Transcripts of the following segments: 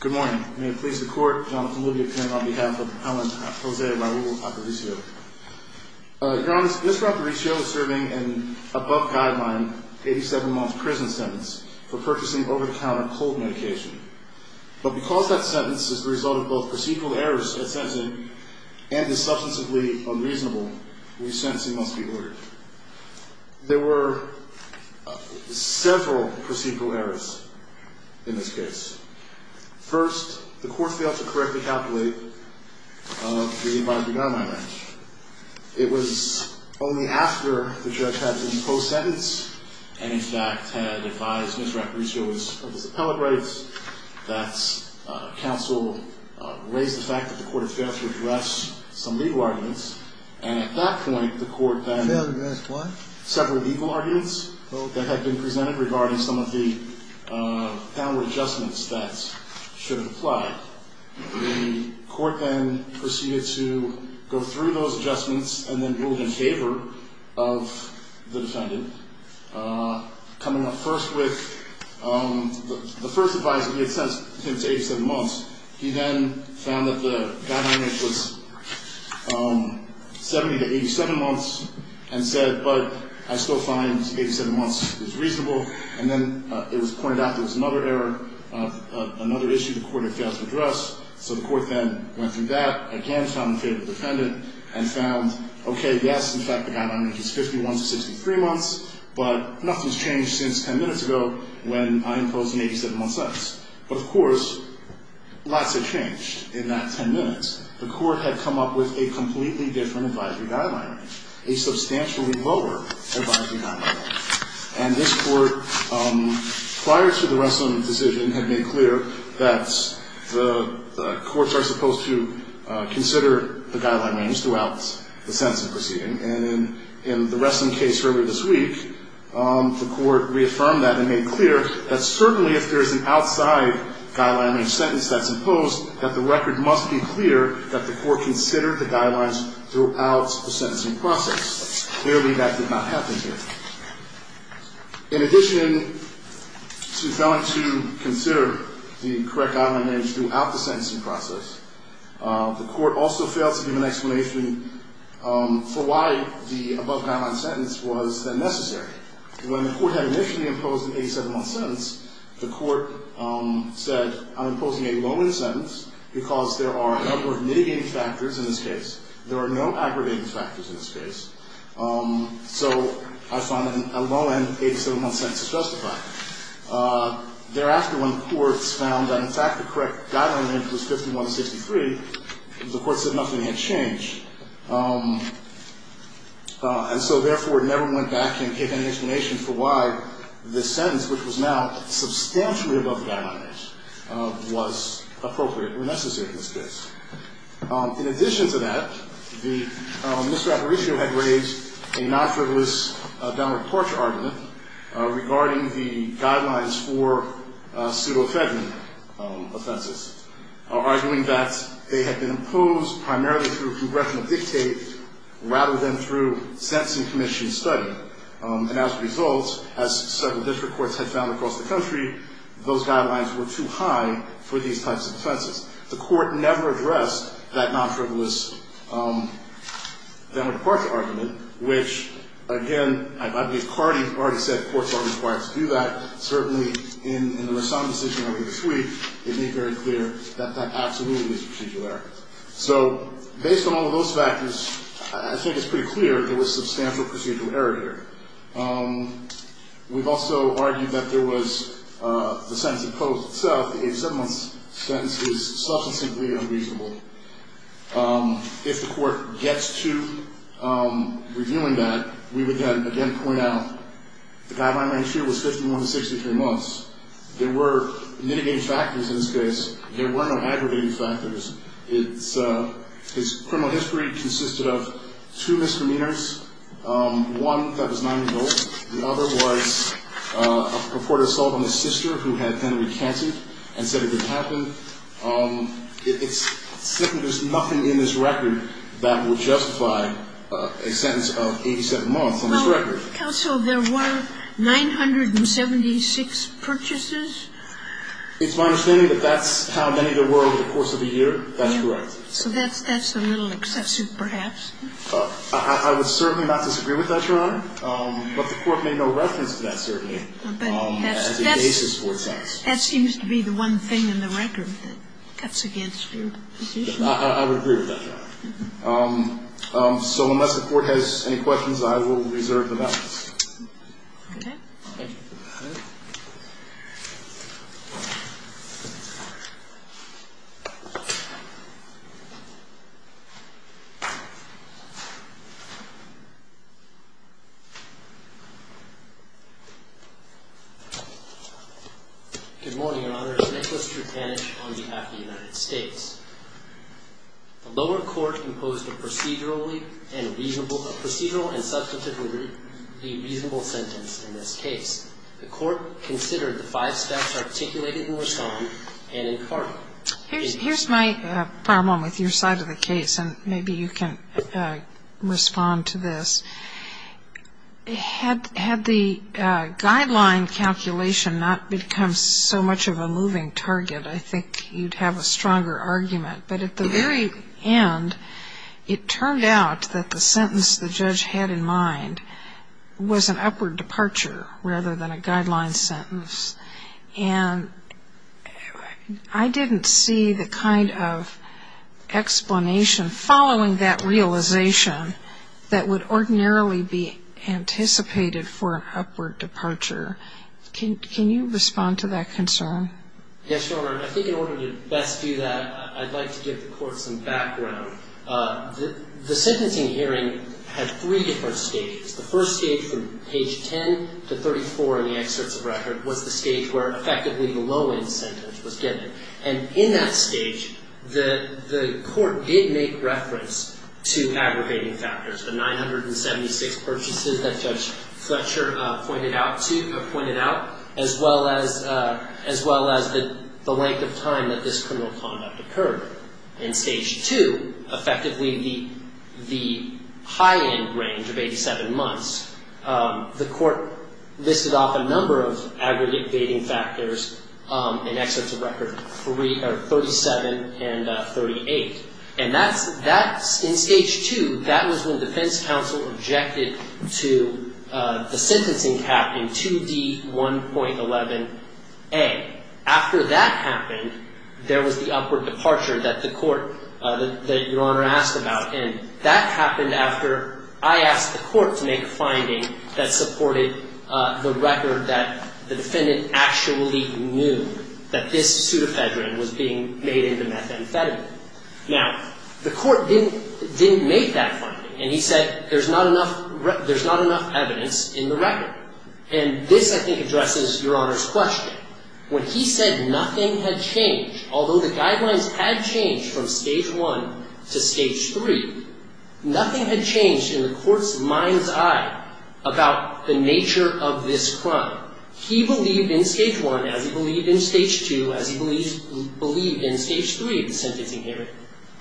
Good morning. May it please the court, Jonathan Libby, appearing on behalf of Alan Jose Raul Aparicio. Your Honor, Mr. Aparicio is serving an above guideline 87 month prison sentence for purchasing over-the-counter cold medication. But because that sentence is the result of both procedural errors at sentencing and is substantively unreasonable, this sentencing must be ordered. There were several procedural errors in this case. First, the court failed to correctly calculate the advisory guideline match. It was only after the judge had imposed sentence and in fact had advised Mr. Aparicio of his appellate rights that counsel raised the fact that the court had failed to address some legal arguments and at that point the court then... Failed to address what? Several legal arguments that had been made about some of the power adjustments that should have applied. The court then proceeded to go through those adjustments and then ruled in favor of the defendant. Coming up first with... The first advisory had sentenced him to 87 months. He then found that the guideline match was 70 to 87 months and said, but I still find 87 months is reasonable. And then it was pointed out there was another error, another issue the court had failed to address. So the court then went through that again, found in favor of the defendant and found, okay, yes, in fact the guideline matches 51 to 63 months, but nothing's changed since 10 minutes ago when I imposed an 87 month sentence. Of course, lots have changed in that 10 minutes. The court had come up with a completely different advisory guideline, a guideline match. And this court, prior to the Wesson decision, had made clear that the courts are supposed to consider the guideline match throughout the sentencing proceeding. And in the Wesson case earlier this week, the court reaffirmed that and made clear that certainly if there is an outside guideline match sentence that's imposed, that the record must be clear that the court considered the guidelines throughout the sentencing process. Clearly that did not happen here. In addition to failing to consider the correct guideline match throughout the sentencing process, the court also failed to give an explanation for why the above guideline sentence was then necessary. When the court had initially imposed an 87 month sentence, the court said, I'm imposing a low end sentence because there are a number of mitigating factors in this case. There are no aggravating factors in this case. So I find that a low end 87 month sentence is justified. Thereafter, when courts found that in fact the correct guideline match was 51 to 63, the court said nothing had changed. And so therefore it never went back and gave any explanation for why this sentence, which was now substantially above the guideline match, was appropriate or not. Mr. Aparicio had raised a non-frivolous down report argument regarding the guidelines for pseudo-Fedman offenses, arguing that they had been imposed primarily through congressional dictate rather than through sentencing commission study. And as a result, as several district courts had found across the country, those guidelines were too high for these types of offenses. The down report argument, which again, I believe Cardi already said courts are required to do that. Certainly in the Rassam decision earlier this week, it made very clear that that absolutely was a procedural error. So based on all of those factors, I think it's pretty clear there was substantial procedural error here. We've also argued that there was the sentence imposed itself, the guideline match was 51 to 63 months. There were mitigating factors in this case. There were no aggravating factors. His criminal history consisted of two misdemeanors. One, that was nine years old. The other was a purported assault on his sister, who had then recanted and said it didn't happen. There's nothing in this record that would justify a sentence of 87 months on this record. Counsel, there were 976 purchases. It's my understanding that that's how many there were over the course of a year. That's correct. So that's a little excessive perhaps. I would certainly not disagree with that, Your Honor. But the court made no reference to that, certainly, as a basis for its actions. That seems to be the one thing in the record that cuts against your position. I would agree with that, Your Honor. So unless the court has any questions, I will reserve the balance. Okay. Thank you. Okay. Good morning, Your Honor. Nicholas Trutanich on behalf of the United States. The lower court imposed a procedurally and reasonable, procedural and The court considered the five steps articulated in the respondent and in Here's my problem with your side of the case, and maybe you can respond to this. Had the guideline calculation not become so much of a moving target, I think you'd have a stronger argument. But at the very end, it turned out that the sentence the judge had in mind was an upward departure, rather than a guideline sentence. And I didn't see the kind of explanation following that realization that would ordinarily be anticipated for an upward departure. Can you respond to that concern? Yes, Your Honor. I think in order to best do that, I'd like to give the court some background. The sentencing hearing had three different stages. The first stage from page 10 to 34 in the excerpts of record was the stage where effectively the low-end sentence was given. And in that stage, the court did make reference to aggravating factors, the 976 purchases that Judge Fletcher pointed out to, or pointed out, as well as the length of time that this occurred. In stage two, effectively the high-end range of 87 months, the court listed off a number of aggravating factors in excerpts of record 37 and 38. And in stage two, that was when defense counsel objected to the sentencing cap in 2D1.11a. After that happened, there was the upward departure that the court, that Your Honor asked about. And that happened after I asked the court to make a finding that supported the record that the defendant actually knew that this pseudoephedrine was being made into methamphetamine. Now, the court didn't make that finding. And he said, there's not enough evidence in the record. And this, I think, addresses Your Honor's question. When he said nothing had changed, although the guidelines had changed from stage one to stage three, nothing had changed in the court's mind's eye about the nature of this crime. He believed in stage one, as he believed in stage two, as he believed in stage three of the sentencing hearing,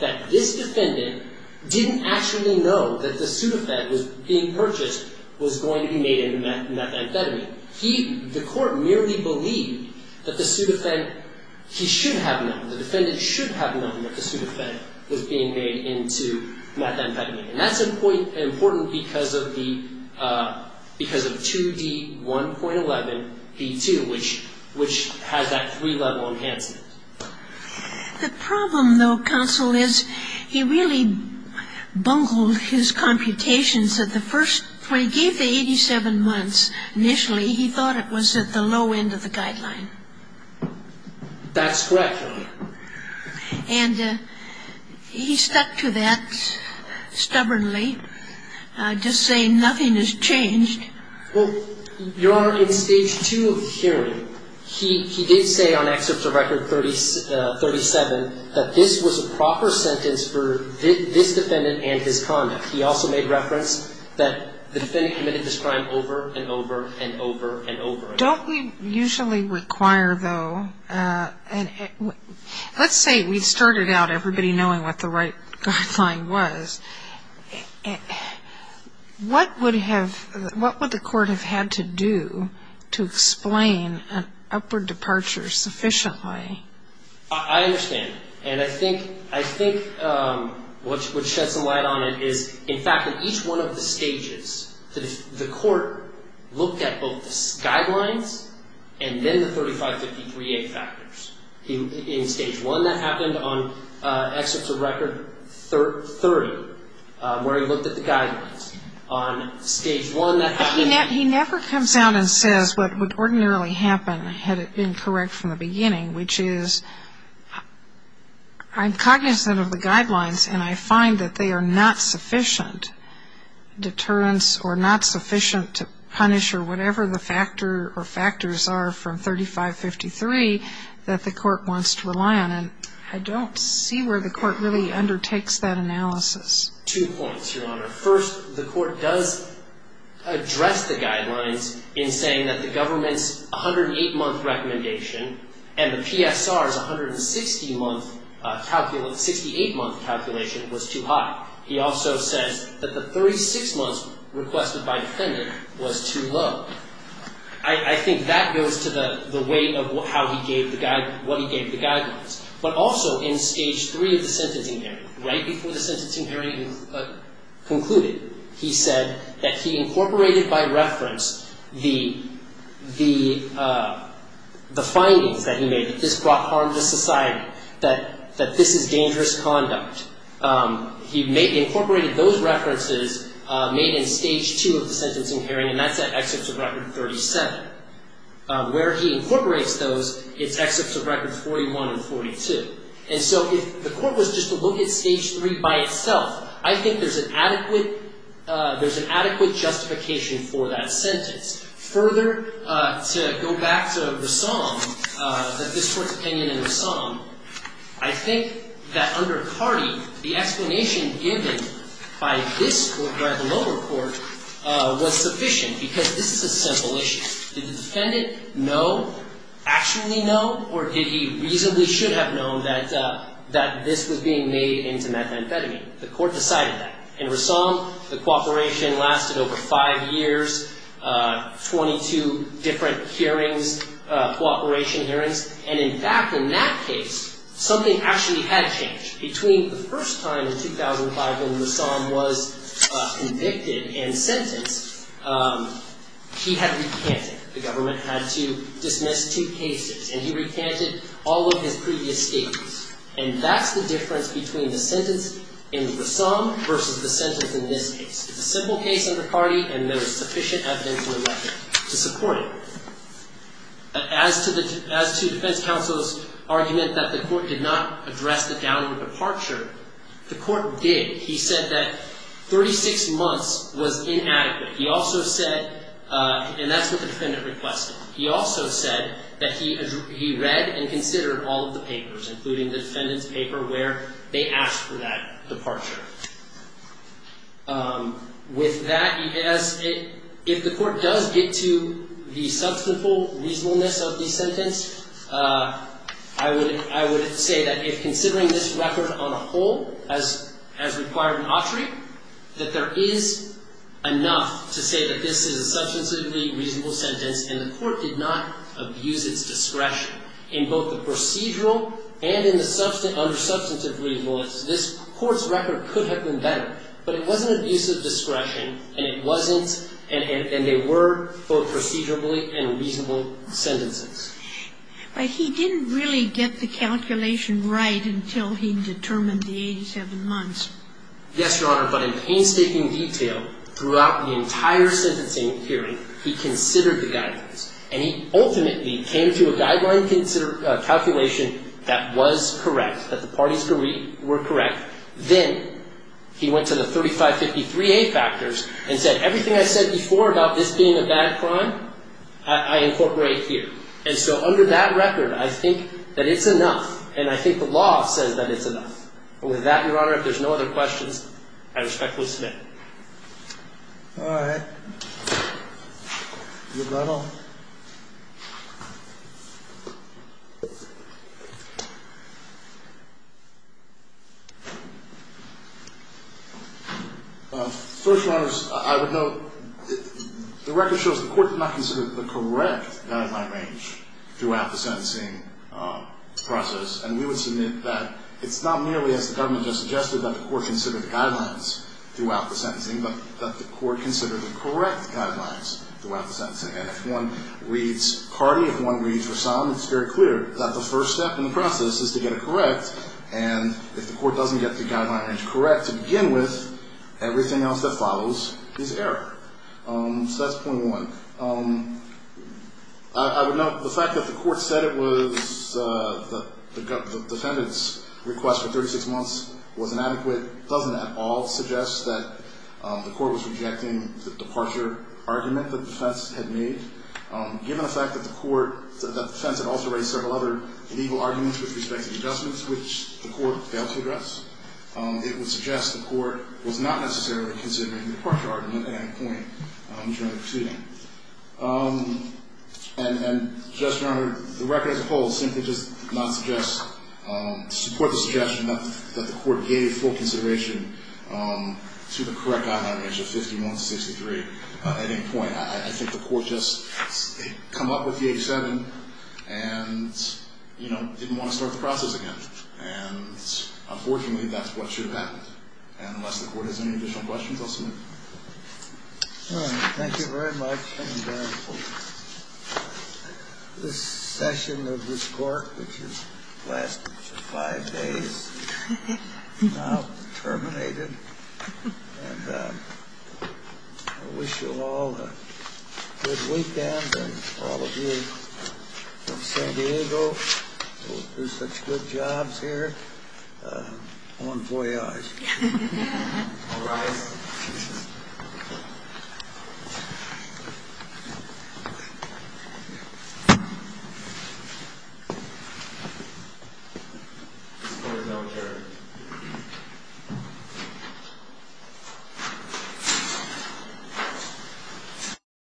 that this defendant didn't actually know that the court merely believed that the pseudoephrine, he should have known, the defendant should have known that the pseudoephrine was being made into methamphetamine. And that's important because of 2D1.11b.2, which has that three-level enhancement. The problem, though, counsel, is he really bungled his computations at the first – when he gave the 87 months, initially he thought it was at the low end of the guideline. That's correct, Your Honor. And he stuck to that stubbornly, just saying nothing has changed. Well, Your Honor, in stage two of the hearing, he did say on Excerpt to Record 37 that this was a proper sentence for this defendant and his conduct. He also made reference that the defendant committed this crime over and over and over and over again. Don't we usually require, though – let's say we started out everybody knowing what the right guideline was. What would the court have had to do to explain an upward departure sufficiently? I understand. And I think what sheds some light on it is, in fact, in each one of the stages, the court looked at both the guidelines and then the 3553A factors. In stage one, that happened on Excerpt to Record 30, where he looked at the guidelines. On stage one, that happened – But he never comes out and says what would ordinarily happen had it been correct from the beginning, which is, I'm cognizant of the guidelines and I find that they are not sufficient deterrence or not sufficient to punish or whatever the factor or factors are from 3553 that the court wants to rely on. And I don't see where the court really undertakes that analysis. Two points, Your Honor. First, the court does address the guidelines in saying that the government's 108-month recommendation and the PSR's 160-month calculation – 68-month calculation was too high. He also says that the 36-month requested by defendant was too low. I think that goes to the weight of how he gave the – what he gave the guidelines. But also in stage three of the sentencing hearing, right before the sentencing hearing concluded, he said that he incorporated by reference the findings that he made that this brought harm to society, that this is dangerous conduct. He incorporated those references made in stage two of the sentencing hearing, and that's at Excerpts of Record 37. Where he incorporates those is Excerpts of Record 41 and 42. And so if the court was just to look at stage three by itself, I think there's an adequate – there's an adequate justification for that sentence. Further, to go back to the psalm, that this Court's opinion in the psalm, I think that under Cardi, the explanation given by this – by the lower court was sufficient because this is a simple issue. Did the defendant know, actually know, or did he reasonably should have known that this was being made into methamphetamine? The court decided that. In Rassam, the cooperation lasted over five years, 22 different hearings, cooperation hearings. And in fact, in that case, something actually had changed. Between the first time in 2005 when Rassam was convicted and sentenced, he had recanted. The government had to dismiss two cases, and he recanted all of his previous cases. And that's the difference between the sentence in Rassam versus the sentence in this case. It's a simple case under Cardi, and there was sufficient evidential evidence to support it. As to the – as to defense counsel's argument that the court did not address the downward departure, the court did. He said that 36 months was inadequate. He also said – and that's what the defense counsel's argument is, including the defendant's paper where they asked for that departure. With that, he has – if the court does get to the substantial reasonableness of the sentence, I would – I would say that if considering this record on a whole as – as required in Autry, that there is enough to say that this is a substantively reasonable sentence, and the court did not abuse its discretion in both the procedural and in the – under substantive reasonableness, this court's record could have been better. But it wasn't abuse of discretion, and it wasn't – and they were both procedurally and reasonable sentences. But he didn't really get the calculation right until he determined the 87 months. Yes, Your Honor, but in painstaking detail throughout the entire sentencing hearing, he considered the guidelines, and he ultimately came to a guideline calculation that was correct, that the parties were correct. Then he went to the 3553A factors and said, everything I said before about this being a bad crime, I incorporate here. And so under that record, I think that it's enough, and I think the law says that it's enough. And with that, Your Honor, if there's no other questions, I respectfully submit. All right. Your battle. First, Your Honors, I would note, the record shows the court did not consider the correct guideline range throughout the sentencing process, and we would submit that it's not merely, as the government just suggested, that the court considered the guidelines throughout the sentencing, but that the court considered the correct guidelines throughout the sentencing. And if one reads party, if one reads resound, it's very clear that the first step in the process is to get it correct, and if the court doesn't get the guideline range correct to begin with, everything else that follows is error. So that's point one. I would note the fact that the court said it was – the defendant's request for a deferral doesn't at all suggest that the court was rejecting the departure argument that the defense had made. Given the fact that the court – that the defense had also raised several other legal arguments with respect to the adjustments, which the court failed to address, it would suggest the court was not necessarily considering the departure argument at any point during the proceeding. And just, Your Honor, the record as a whole simply does not suggest – support the suggestion that the court gave full consideration to the correct guideline range of 51 to 63 at any point. I think the court just came up with the 87 and, you know, didn't want to start the process again. And unfortunately, that's what should have happened. And unless the court has any additional questions, I'll submit. All right. Thank you very much. And this session of this court, which has lasted five days, is now terminated. And I wish you all a good weekend. And for all of you from San Diego who do such good jobs here, bon voyage. All rise. This court is now adjourned.